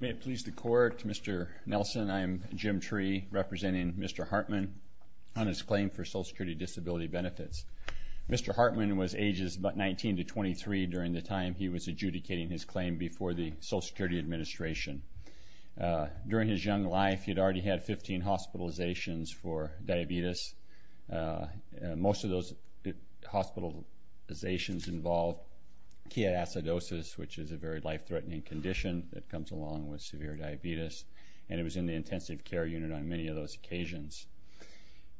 May it please the court, Mr. Nelson, I am Jim Tree, representing Mr. Hartmann on his claim for Social Security Disability Benefits. Mr. Hartmann was ages 19 to 23 during the time he was adjudicating his claim before the Social Security Administration. During his young life, he had already had 15 hospitalizations for diabetes. Most of those hospitalizations involved chiatidosis, which is a very life-threatening condition that comes along with severe diabetes, and he was in the intensive care unit on many of those occasions.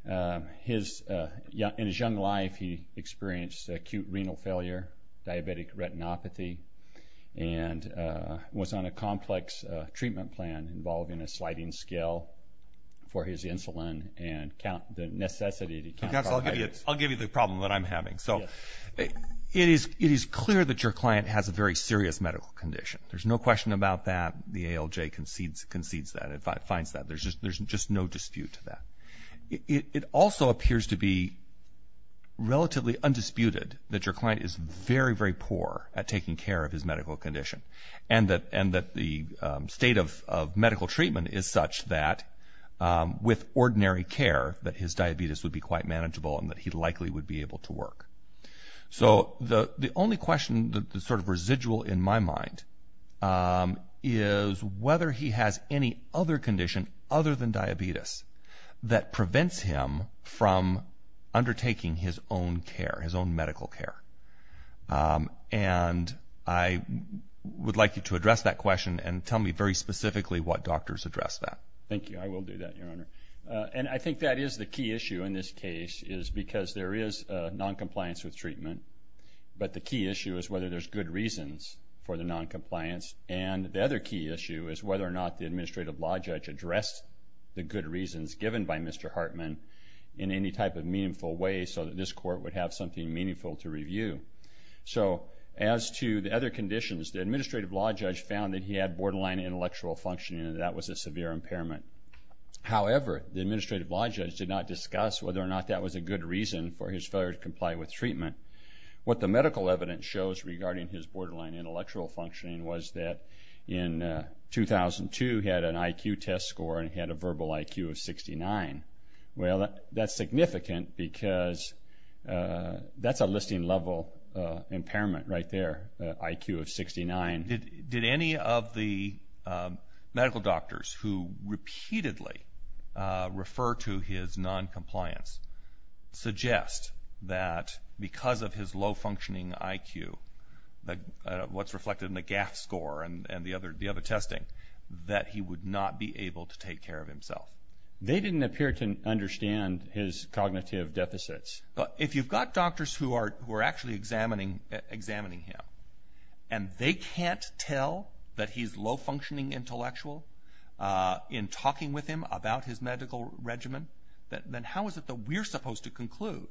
In his young life, he experienced acute renal failure, diabetic retinopathy, and was on a complex treatment plan involving a sliding scale for his insulin and the necessity to count... Mr. Nelson, I'll give you the problem that I'm having. It is clear that your client has a very serious medical condition. There's no question about that. The ALJ concedes that, finds that. There's just no dispute to that. It also appears to be relatively undisputed that your client is very, very poor at taking care of his medical condition and that the state of medical treatment is such that, with ordinary care, that his diabetes would be quite manageable and that he likely would be able to work. So the only question that's sort of residual in my mind is whether he has any other condition other than diabetes that prevents him from undertaking his own care, his own medical care. And I would like you to address that question and tell me very specifically what doctors address that. Thank you. I will do that, Your Honor. And I think that is the key issue in this case is because there is noncompliance with treatment, but the key issue is whether there's good reasons for the noncompliance. And the other key issue is whether or not the administrative law judge addressed the good reasons given by Mr. Hartman in any type of meaningful way so that this court would have something meaningful to review. So as to the other conditions, the administrative law judge found that he had borderline intellectual functioning and that was a severe impairment. However, the administrative law judge did not discuss whether or not that was a good reason for his failure to comply with treatment. What the medical evidence shows regarding his borderline intellectual functioning was that in 2002 he had an IQ test score and he had a verbal IQ of 69. Well, that's significant because that's a listing level impairment right there, IQ of 69. Did any of the medical doctors who repeatedly refer to his noncompliance suggest that because of his low functioning IQ, what's reflected in the GAF score and the other testing, that he would not be able to take care of himself? They didn't appear to understand his cognitive deficits. If you've got doctors who are actually examining him and they can't tell that he's low functioning intellectual in talking with him about his medical regimen, then how is it that we're supposed to conclude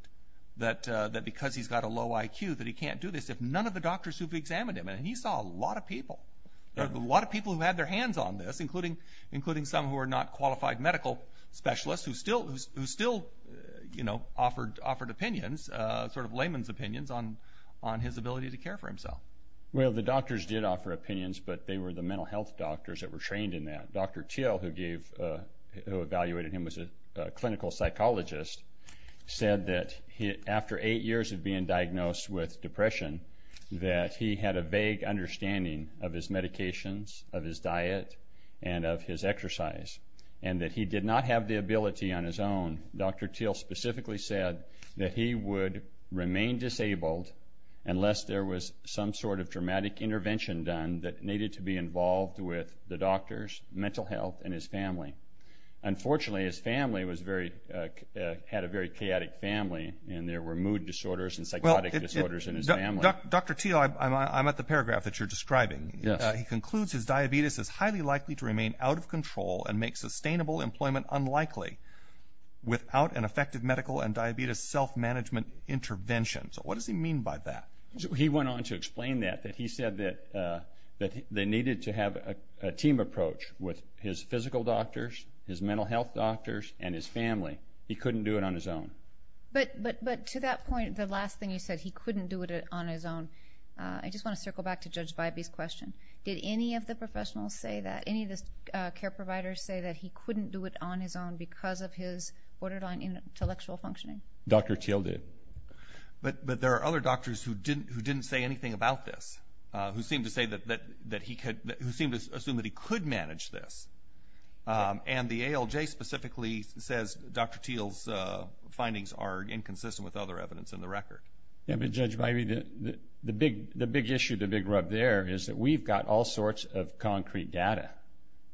that because he's got a low IQ that he can't do this if none of the doctors who've examined him, and he saw a lot of people, a lot of people who had their hands on this, including some who are not qualified medical specialists who still offered opinions, sort of layman's opinions on his ability to care for himself? Well, the doctors did offer opinions, but they were the mental health doctors that were trained in that. Dr. Thiel, who evaluated him as a clinical psychologist, said that after eight years of being diagnosed with depression that he had a vague understanding of his medications, of his diet, and of his exercise, and that he did not have the ability on his own. Dr. Thiel specifically said that he would remain disabled unless there was some sort of dramatic intervention done that needed to be involved with the doctors, mental health, and his family. Unfortunately, his family had a very chaotic family, and there were mood disorders and psychotic disorders in his family. Dr. Thiel, I'm at the paragraph that you're describing. He concludes his diabetes is highly likely to remain out of control and make sustainable employment unlikely without an effective medical and diabetes self-management intervention. So what does he mean by that? He went on to explain that, that he said that they needed to have a team approach with his physical doctors, his mental health doctors, and his family. He couldn't do it on his own. But to that point, the last thing you said, he couldn't do it on his own. I just want to circle back to Judge Vibey's question. Did any of the professionals say that? Any of the care providers say that he couldn't do it on his own because of his borderline intellectual functioning? Dr. Thiel did. But there are other doctors who didn't say anything about this, who seem to assume that he could manage this. And the ALJ specifically says Dr. Thiel's findings are inconsistent with other evidence in the record. Yeah, but Judge Vibey, the big issue, the big rub there is that we've got all sorts of concrete data.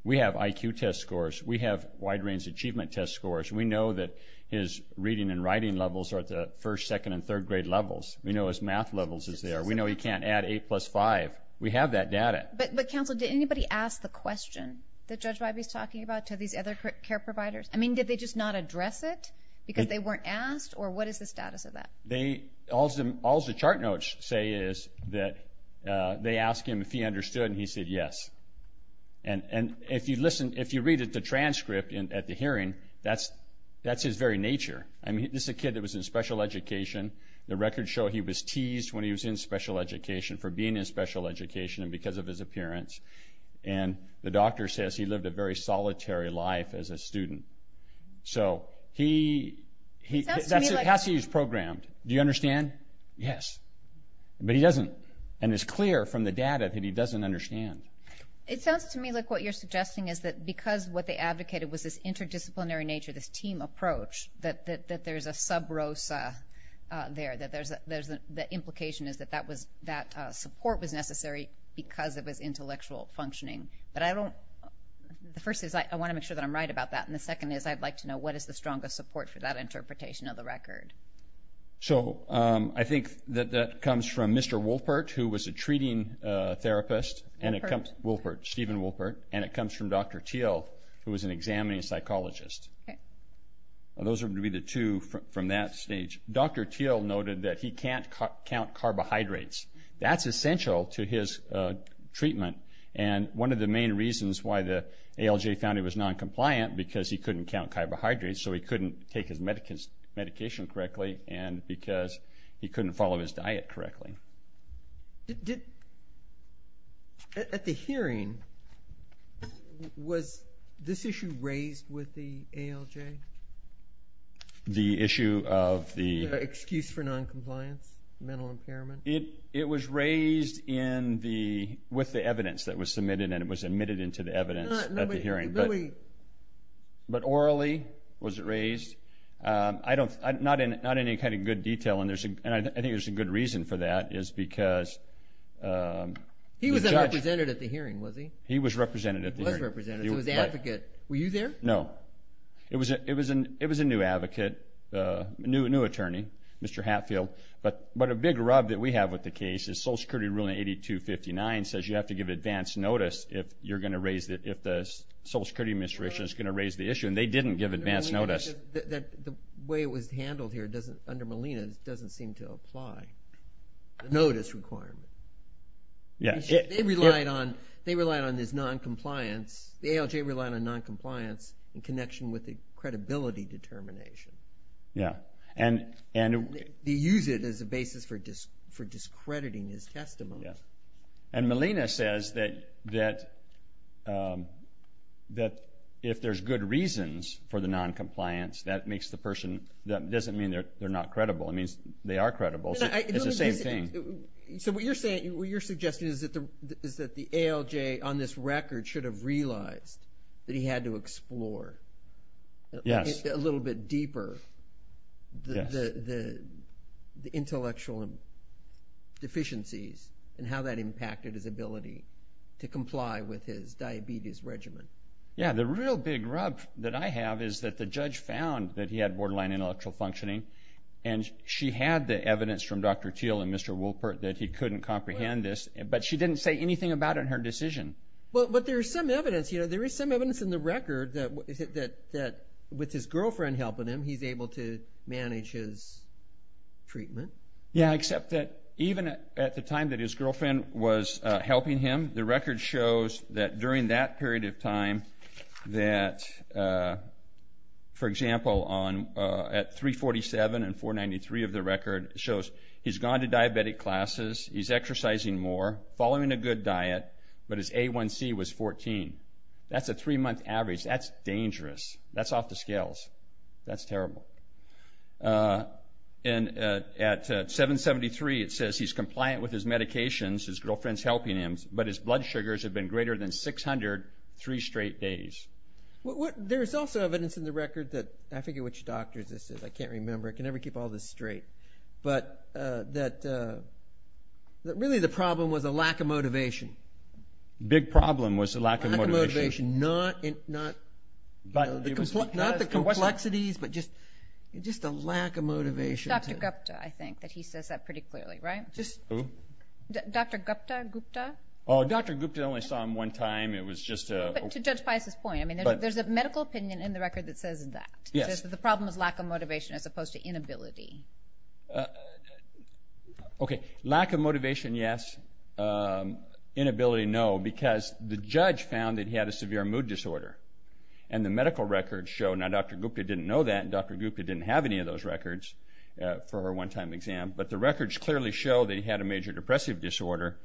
We have IQ test scores. We have wide-range achievement test scores. We know that his reading and writing levels are at the first, second, and third grade levels. We know his math levels is there. We know he can't add 8 plus 5. We have that data. But, Counsel, did anybody ask the question that Judge Vibey's talking about to these other care providers? I mean, did they just not address it because they weren't asked? Or what is the status of that? All the chart notes say is that they asked him if he understood, and he said yes. And if you read the transcript at the hearing, that's his very nature. I mean, this is a kid that was in special education. The records show he was teased when he was in special education for being in special education and because of his appearance. And the doctor says he lived a very solitary life as a student. So he has to be programmed. Do you understand? Yes. But he doesn't. And it's clear from the data that he doesn't understand. It sounds to me like what you're suggesting is that because what they advocated was this interdisciplinary nature, this team approach, that there's a sub rosa there, that the implication is that that support was necessary because of his intellectual functioning. The first is I want to make sure that I'm right about that, and the second is I'd like to know what is the strongest support for that interpretation of the record. So I think that that comes from Mr. Wolpert, who was a treating therapist. Wolpert. Wolpert, Stephen Wolpert. And it comes from Dr. Thiel, who was an examining psychologist. Okay. Those are going to be the two from that stage. Dr. Thiel noted that he can't count carbohydrates. That's essential to his treatment. And one of the main reasons why the ALJ found he was noncompliant, because he couldn't count carbohydrates, so he couldn't take his medication correctly, and because he couldn't follow his diet correctly. At the hearing, was this issue raised with the ALJ? The issue of the? The excuse for noncompliance, mental impairment. It was raised with the evidence that was submitted, and it was admitted into the evidence at the hearing. But orally was it raised? Not in any kind of good detail, and I think there's a good reason for that, is because the judge. He wasn't represented at the hearing, was he? He was represented at the hearing. He was represented. He was the advocate. Were you there? No. It was a new advocate, a new attorney, Mr. Hatfield. But a big rub that we have with the case is Social Security ruling 8259 says you have to give advance notice if the Social Security Administration is going to raise the issue, and they didn't give advance notice. The way it was handled here under Molina doesn't seem to apply, the notice requirement. They relied on this noncompliance. The ALJ relied on noncompliance in connection with the credibility determination. They use it as a basis for discrediting his testimony. And Molina says that if there's good reasons for the noncompliance, that doesn't mean they're not credible. It means they are credible. It's the same thing. So what you're suggesting is that the ALJ on this record should have realized that he had to explore a little bit deeper the intellectual deficiencies and how that impacted his ability to comply with his diabetes regimen. Yeah. The real big rub that I have is that the judge found that he had borderline intellectual functioning, and she had the evidence from Dr. Thiel and Mr. Wolpert that he couldn't comprehend this, but she didn't say anything about it in her decision. But there is some evidence in the record that with his girlfriend helping him, he's able to manage his treatment. Yeah, except that even at the time that his girlfriend was helping him, the record shows that during that period of time that, for example, at 347 and 493 of the record shows he's gone to diabetic classes, he's exercising more, following a good diet, but his A1C was 14. That's a three-month average. That's dangerous. That's off the scales. That's terrible. And at 773 it says he's compliant with his medications, his girlfriend's helping him, but his blood sugars have been greater than 600 three straight days. There's also evidence in the record that I forget which doctor this is. I can't remember. I can never keep all this straight. But really the problem was a lack of motivation. A big problem was a lack of motivation. A lack of motivation, not the complexities, but just a lack of motivation. Dr. Gupta, I think, that he says that pretty clearly, right? Who? Dr. Gupta. Oh, Dr. Gupta, I only saw him one time. To Judge Pius's point, there's a medical opinion in the record that says that, the problem is lack of motivation as opposed to inability. Okay, lack of motivation, yes. Inability, no, because the judge found that he had a severe mood disorder. And the medical records show, now Dr. Gupta didn't know that, and Dr. Gupta didn't have any of those records for her one-time exam, but the records clearly show that he had a major depressive disorder,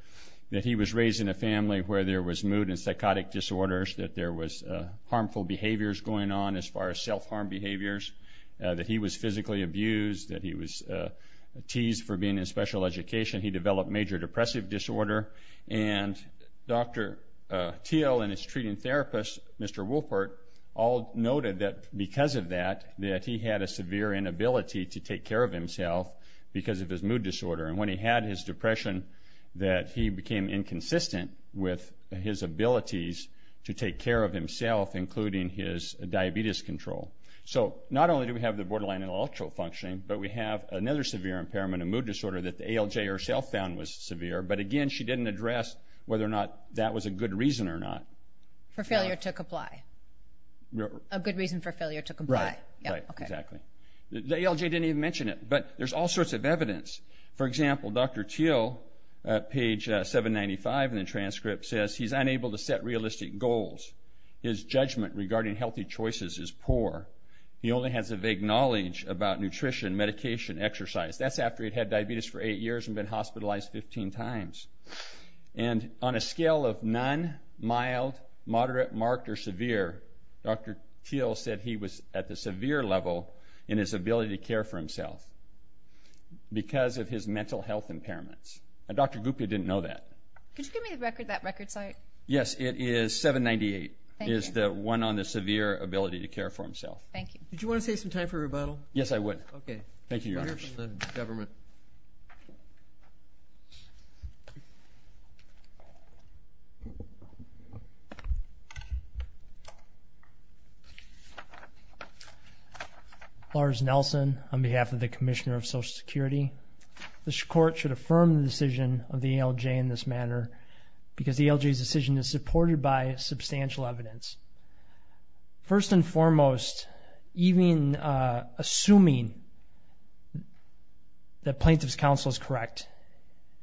that he was raised in a family where there was mood and psychotic disorders, that there was harmful behaviors going on as far as self-harm behaviors, that he was physically abused, that he was teased for being in special education. He developed major depressive disorder. And Dr. Thiel and his treating therapist, Mr. Wolpert, all noted that because of that, that he had a severe inability to take care of himself because of his mood disorder. And when he had his depression, that he became inconsistent with his abilities to take care of himself, including his diabetes control. So not only do we have the borderline intellectual functioning, but we have another severe impairment, a mood disorder, that the ALJ herself found was severe, but again she didn't address whether or not that was a good reason or not. For failure to comply. A good reason for failure to comply. Right, right, exactly. The ALJ didn't even mention it, but there's all sorts of evidence. For example, Dr. Thiel, page 795 in the transcript, says he's unable to set realistic goals. His judgment regarding healthy choices is poor. He only has a vague knowledge about nutrition, medication, exercise. That's after he'd had diabetes for eight years and been hospitalized 15 times. And on a scale of none, mild, moderate, marked, or severe, Dr. Thiel said he was at the severe level in his ability to care for himself. Because of his mental health impairments. Dr. Gupta didn't know that. Could you give me that record site? Yes, it is 798. It is the one on the severe ability to care for himself. Thank you. Did you want to save some time for a rebuttal? Yes, I would. Okay. Thank you, Your Honors. We'll hear from the government. Thank you. Lars Nelson, on behalf of the Commissioner of Social Security. This Court should affirm the decision of the ALJ in this manner because the ALJ's decision is supported by substantial evidence. First and foremost, even assuming that plaintiff's counsel is correct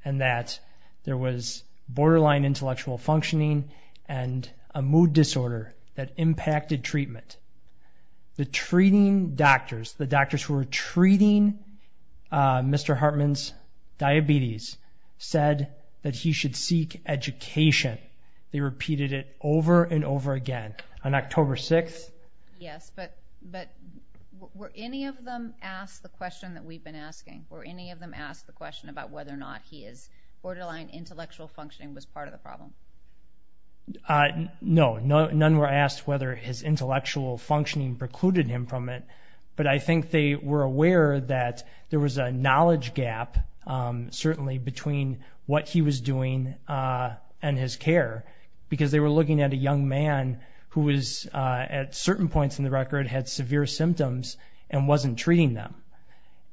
and that there was borderline intellectual functioning and a mood disorder that impacted treatment, the treating doctors, the doctors who were treating Mr. Hartman's diabetes, said that he should seek education. They repeated it over and over again. On October 6th? Yes, but were any of them asked the question that we've been asking? Were any of them asked the question about whether or not his borderline intellectual functioning was part of the problem? No, none were asked whether his intellectual functioning precluded him from it. But I think they were aware that there was a knowledge gap, certainly, between what he was doing and his care because they were looking at a young man who was, at certain points in the record, had severe symptoms and wasn't treating them.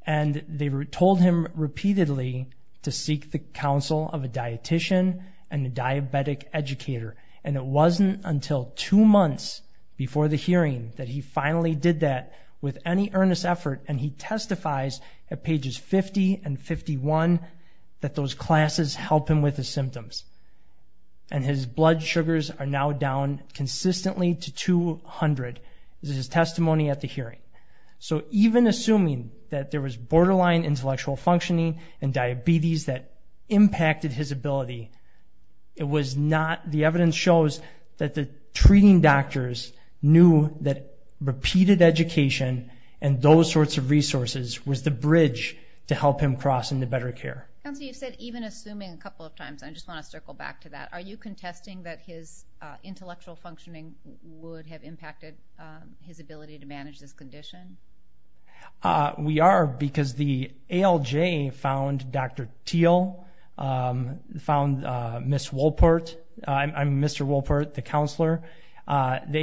And they told him repeatedly to seek the counsel of a dietician and a diabetic educator. And it wasn't until two months before the hearing that he finally did that with any earnest effort, and he testifies at pages 50 and 51 that those classes help him with his symptoms. And his blood sugars are now down consistently to 200. This is his testimony at the hearing. So even assuming that there was borderline intellectual functioning and diabetes that impacted his ability, the evidence shows that the treating doctors knew that repeated education and those sorts of resources was the bridge to help him cross into better care. Counsel, you said even assuming a couple of times. I just want to circle back to that. Are you contesting that his intellectual functioning would have impacted his ability to manage this condition? We are because the ALJ found Dr. Thiel, found Ms. Wolpert. I'm Mr. Wolpert, the counselor. The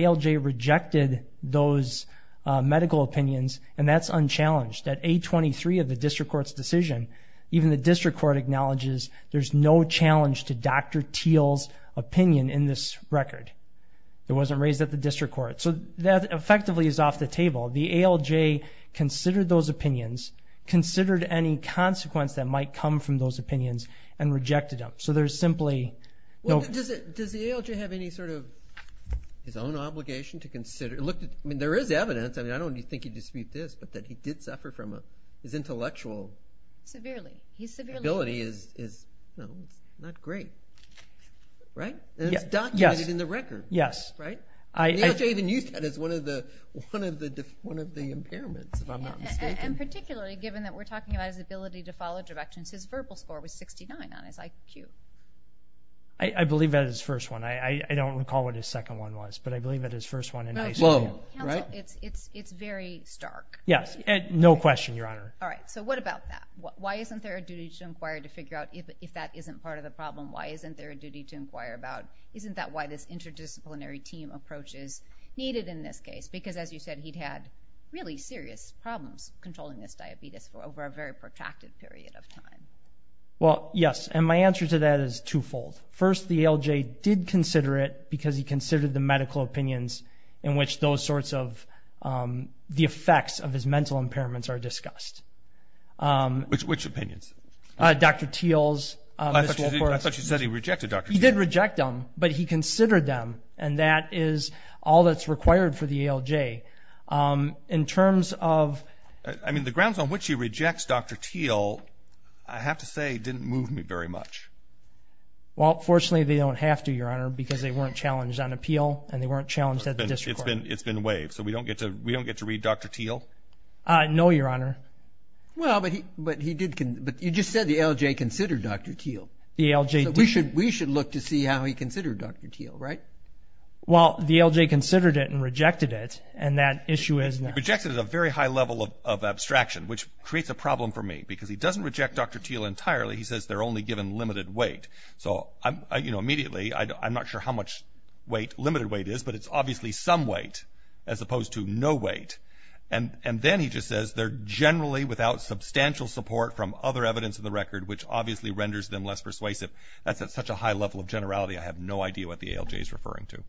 ALJ rejected those medical opinions, and that's unchallenged. At 823 of the district court's decision, even the district court acknowledges there's no challenge to Dr. Thiel's opinion in this record. It wasn't raised at the district court. So that effectively is off the table. The ALJ considered those opinions, considered any consequence that might come from those opinions, and rejected them. Does the ALJ have any sort of his own obligation to consider? I mean, there is evidence. I don't think he'd dispute this, but that he did suffer from his intellectual ability is not great, right? It's documented in the record. The ALJ even used that as one of the impairments, if I'm not mistaken. And particularly given that we're talking about his ability to follow directions, his verbal score was 69 on his IQ. I believe that is his first one. I don't recall what his second one was, but I believe that his first one in ICU. It's very stark. Yes, no question, Your Honor. All right, so what about that? Why isn't there a duty to inquire to figure out if that isn't part of the problem? Why isn't there a duty to inquire about? Isn't that why this interdisciplinary team approach is needed in this case? Because as you said, he'd had really serious problems controlling this diabetes for over a very protracted period of time. Well, yes, and my answer to that is twofold. First, the ALJ did consider it because he considered the medical opinions in which those sorts of the effects of his mental impairments are discussed. Which opinions? Dr. Thiel's. I thought you said he rejected Dr. Thiel's. He did reject them, but he considered them, and that is all that's required for the ALJ. I mean, the grounds on which he rejects Dr. Thiel, I have to say, didn't move me very much. Well, fortunately, they don't have to, Your Honor, because they weren't challenged on appeal and they weren't challenged at the district court. It's been waived, so we don't get to read Dr. Thiel? No, Your Honor. Well, but you just said the ALJ considered Dr. Thiel. The ALJ did. So we should look to see how he considered Dr. Thiel, right? Well, the ALJ considered it and rejected it, and that issue is now. He rejected it at a very high level of abstraction, which creates a problem for me, because he doesn't reject Dr. Thiel entirely. He says they're only given limited weight. So, you know, immediately, I'm not sure how much weight, limited weight is, but it's obviously some weight as opposed to no weight. And then he just says they're generally without substantial support from other evidence in the record, which obviously renders them less persuasive. That's at such a high level of generality, I have no idea what the ALJ is referring to.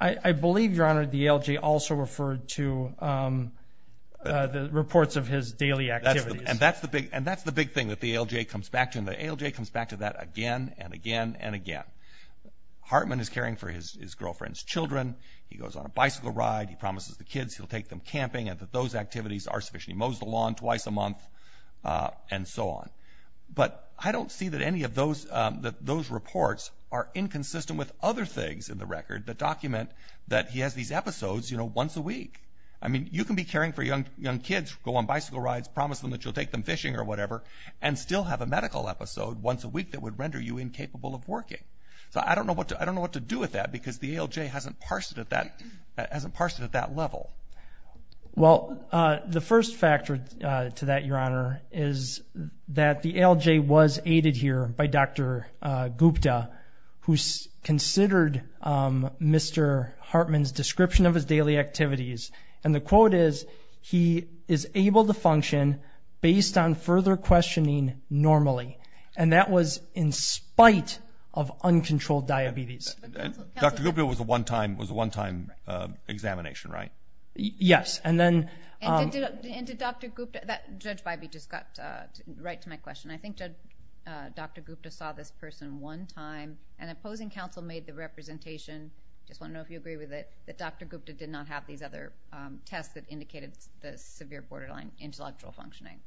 I believe, Your Honor, the ALJ also referred to the reports of his daily activities. And that's the big thing that the ALJ comes back to, and the ALJ comes back to that again and again and again. Hartman is caring for his girlfriend's children. He goes on a bicycle ride. He promises the kids he'll take them camping and that those activities are sufficient. He mows the lawn twice a month and so on. But I don't see that any of those reports are inconsistent with other things in the record that document that he has these episodes, you know, once a week. I mean, you can be caring for young kids, go on bicycle rides, promise them that you'll take them fishing or whatever, and still have a medical episode once a week that would render you incapable of working. So I don't know what to do with that because the ALJ hasn't parsed it at that level. Well, the first factor to that, Your Honor, is that the ALJ was aided here by Dr. Gupta, who considered Mr. Hartman's description of his daily activities. And the quote is, he is able to function based on further questioning normally. And that was in spite of uncontrolled diabetes. Dr. Gupta was a one-time examination, right? Yes. And did Dr. Gupta, Judge Bybee just got right to my question, I think Dr. Gupta saw this person one time and opposing counsel made the representation, just want to know if you agree with it, that Dr. Gupta did not have these other tests that indicated the severe borderline intellectual functioning.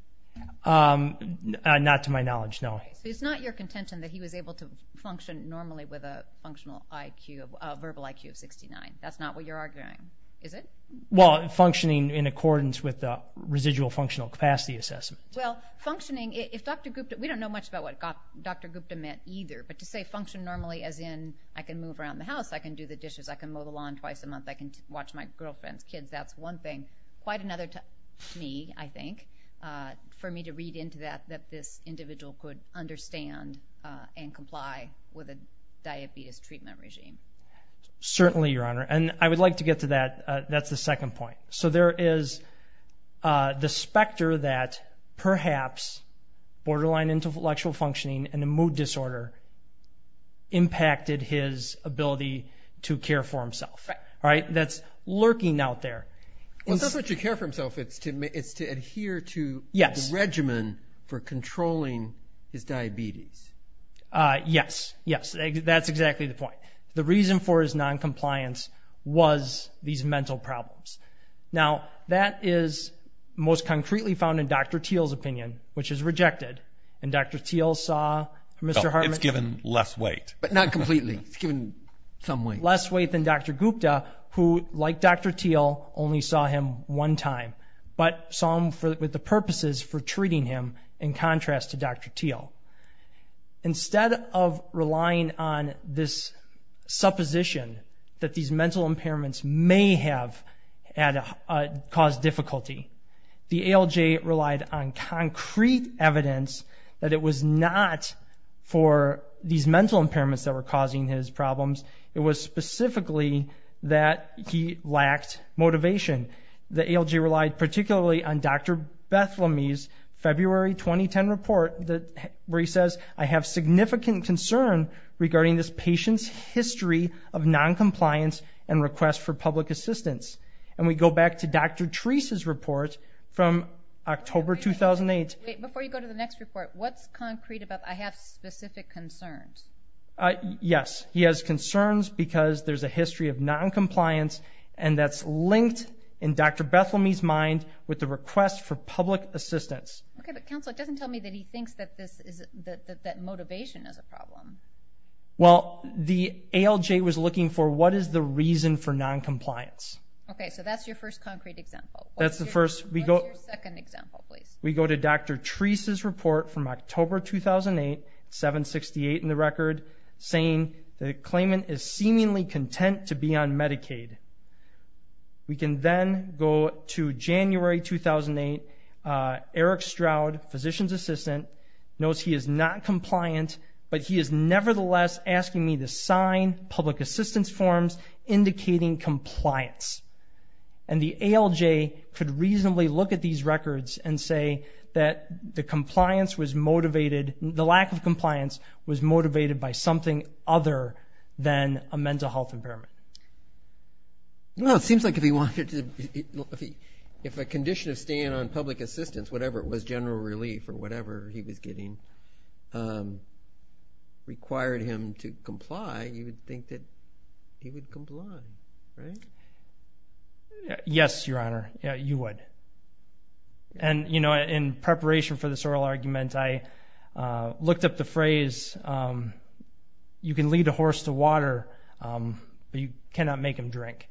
Not to my knowledge, no. So it's not your contention that he was able to function normally with a verbal IQ of 69. That's not what you're arguing, is it? Well, functioning in accordance with the residual functional capacity assessment. Well, functioning, if Dr. Gupta, we don't know much about what Dr. Gupta meant either, but to say function normally as in I can move around the house, I can do the dishes, I can mow the lawn twice a month, I can watch my girlfriend's kids, that's one thing. Quite another to me, I think, for me to read into that, that this individual could understand and comply with a diabetes treatment regime. Certainly, Your Honor, and I would like to get to that. That's the second point. So there is the specter that perhaps borderline intellectual functioning and a mood disorder impacted his ability to care for himself. Right. That's lurking out there. Well, it's not to care for himself. It's to adhere to the regimen for controlling his diabetes. Yes. Yes, that's exactly the point. The reason for his noncompliance was these mental problems. Now, that is most concretely found in Dr. Thiel's opinion, which is rejected, and Dr. Thiel saw Mr. Hartman. But not completely. It's given some weight. Less weight than Dr. Gupta, who, like Dr. Thiel, only saw him one time, but saw him with the purposes for treating him in contrast to Dr. Thiel. Instead of relying on this supposition that these mental impairments may have caused difficulty, the ALJ relied on concrete evidence that it was not for these mental impairments that were causing his problems. It was specifically that he lacked motivation. The ALJ relied particularly on Dr. Bethlemy's February 2010 report where he says, I have significant concern regarding this patient's history of noncompliance and request for public assistance. And we go back to Dr. Treese's report from October 2008. Wait, before you go to the next report, what's concrete about I have specific concerns? Yes, he has concerns because there's a history of noncompliance, and that's linked in Dr. Bethlemy's mind with the request for public assistance. Okay, but counsel, it doesn't tell me that he thinks that motivation is a problem. Well, the ALJ was looking for what is the reason for noncompliance. Okay, so that's your first concrete example. That's the first. What's your second example, please? We go to Dr. Treese's report from October 2008, 768 in the record, saying the claimant is seemingly content to be on Medicaid. We can then go to January 2008. Eric Stroud, physician's assistant, knows he is not compliant, but he is nevertheless asking me to sign public assistance forms indicating compliance. And the ALJ could reasonably look at these records and say that the lack of compliance was motivated by something other than a mental health impairment. Well, it seems like if a condition of staying on public assistance, whatever it was, general relief or whatever he was getting, required him to comply, you would think that he would comply, right? Yes, Your Honor, you would. And, you know, in preparation for this oral argument, I looked up the phrase, you can lead a horse to water, but you cannot make him drink.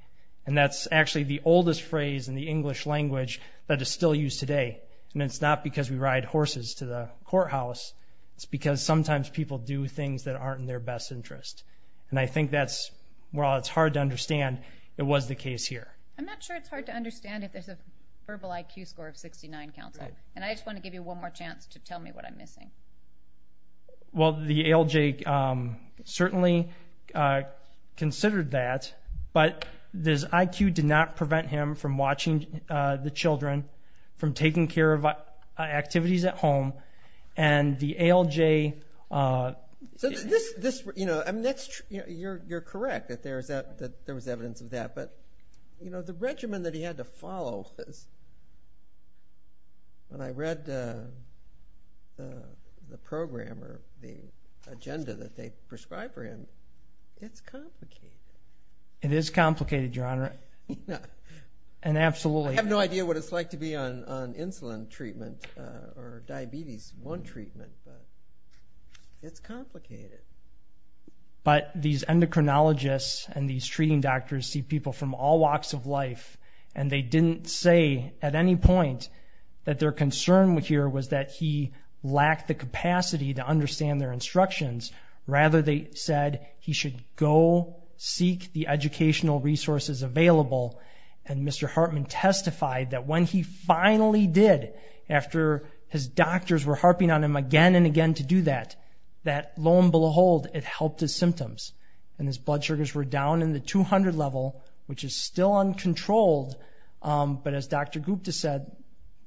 And that's actually the oldest phrase in the English language that is still used today, and it's not because we ride horses to the courthouse. It's because sometimes people do things that aren't in their best interest. And I think that's, while it's hard to understand, it was the case here. I'm not sure it's hard to understand if there's a verbal IQ score of 69, counsel, and I just want to give you one more chance to tell me what I'm missing. Well, the ALJ certainly considered that, but his IQ did not prevent him from watching the children, from taking care of activities at home, and the ALJ. You're correct that there was evidence of that, but the regimen that he had to follow, when I read the program or the agenda that they prescribed for him, it's complicated. It is complicated, Your Honor, and absolutely. I have no idea what it's like to be on insulin treatment or diabetes 1 treatment, but it's complicated. But these endocrinologists and these treating doctors see people from all walks of life, and they didn't say at any point that their concern here was that he lacked the capacity to understand their instructions. Rather, they said he should go seek the educational resources available, and Mr. Hartman testified that when he finally did, after his doctors were harping on him again and again to do that, that lo and behold, it helped his symptoms, and his blood sugars were down in the 200 level, which is still uncontrolled. But as Dr. Gupta said,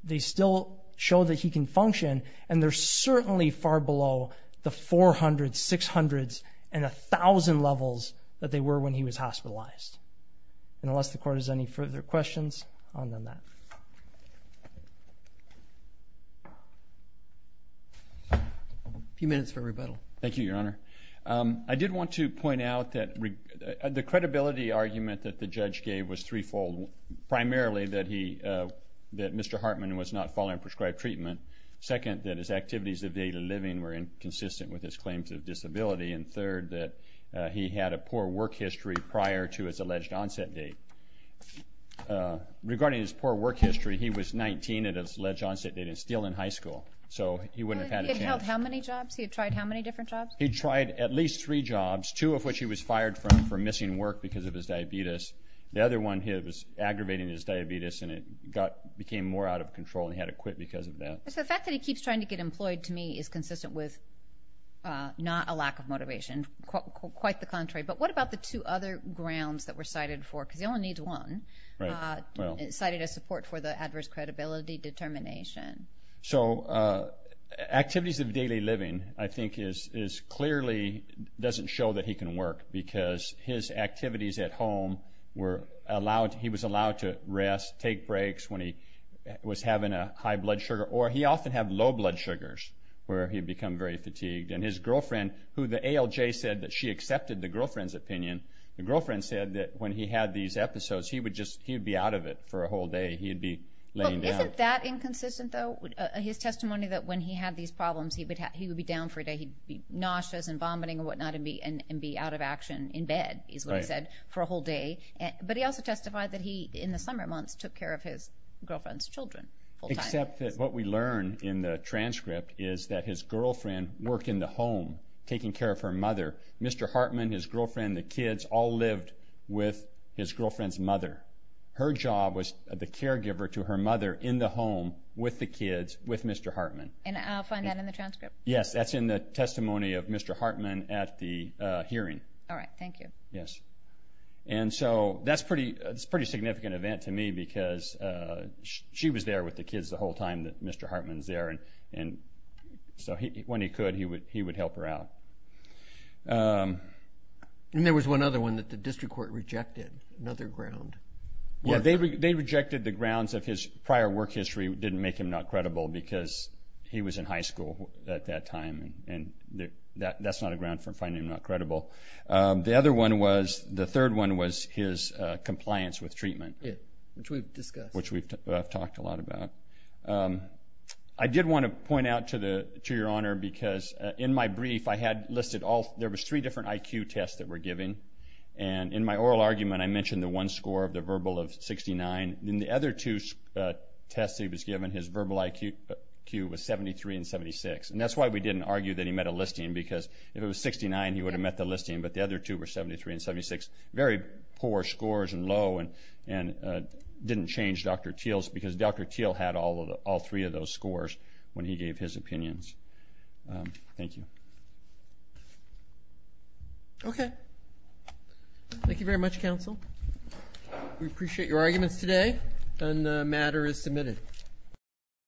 they still show that he can function, and they're certainly far below the 400, 600, and 1,000 levels that they were when he was hospitalized. And unless the Court has any further questions, I'll end that. A few minutes for rebuttal. Thank you, Your Honor. I did want to point out that the credibility argument that the judge gave was threefold, primarily that Mr. Hartman was not following prescribed treatment, second, that his activities of daily living were inconsistent with his claims of disability, and third, that he had a poor work history prior to his alleged onset date. Regarding his poor work history, he was 19 at his alleged onset date and still in high school, so he wouldn't have had a chance. He had held how many jobs? He had tried how many different jobs? He tried at least three jobs, two of which he was fired from for missing work because of his diabetes. The other one, he was aggravating his diabetes, and it became more out of control, and he had to quit because of that. The fact that he keeps trying to get employed, to me, is consistent with not a lack of motivation, quite the contrary. But what about the two other grounds that were cited for, because he only needs one, cited as support for the adverse credibility determination? So activities of daily living, I think, clearly doesn't show that he can work because his activities at home were allowed. He was allowed to rest, take breaks when he was having a high blood sugar, or he often had low blood sugars where he would become very fatigued. And his girlfriend, who the ALJ said that she accepted the girlfriend's opinion, the girlfriend said that when he had these episodes, he would be out of it for a whole day. He would be laying down. Isn't that inconsistent, though, his testimony that when he had these problems, he would be down for a day, he'd be nauseous and vomiting and whatnot and be out of action in bed, is what he said, for a whole day. But he also testified that he, in the summer months, took care of his girlfriend's children full time. Except that what we learn in the transcript is that his girlfriend worked in the home, taking care of her mother. Mr. Hartman, his girlfriend, the kids all lived with his girlfriend's mother. Her job was the caregiver to her mother in the home with the kids, with Mr. Hartman. And I'll find that in the transcript. Yes, that's in the testimony of Mr. Hartman at the hearing. All right, thank you. Yes. And so that's a pretty significant event to me because she was there with the kids the whole time that Mr. Hartman was there, and so when he could, he would help her out. And there was one other one that the district court rejected, another ground. Well, they rejected the grounds of his prior work history didn't make him not credible because he was in high school at that time, and that's not a ground for finding him not credible. The other one was, the third one was his compliance with treatment. Which we've discussed. Which we've talked a lot about. I did want to point out to Your Honor because in my brief I had listed all, there was three different IQ tests that we're giving. And in my oral argument I mentioned the one score of the verbal of 69. In the other two tests that he was given, his verbal IQ was 73 and 76. And that's why we didn't argue that he met a listing because if it was 69, he would have met the listing, but the other two were 73 and 76. Very poor scores and low and didn't change Dr. Teel's because Dr. Teel had all three of those scores when he gave his opinions. Thank you. Okay. Thank you very much, counsel. We appreciate your arguments today, and the matter is submitted.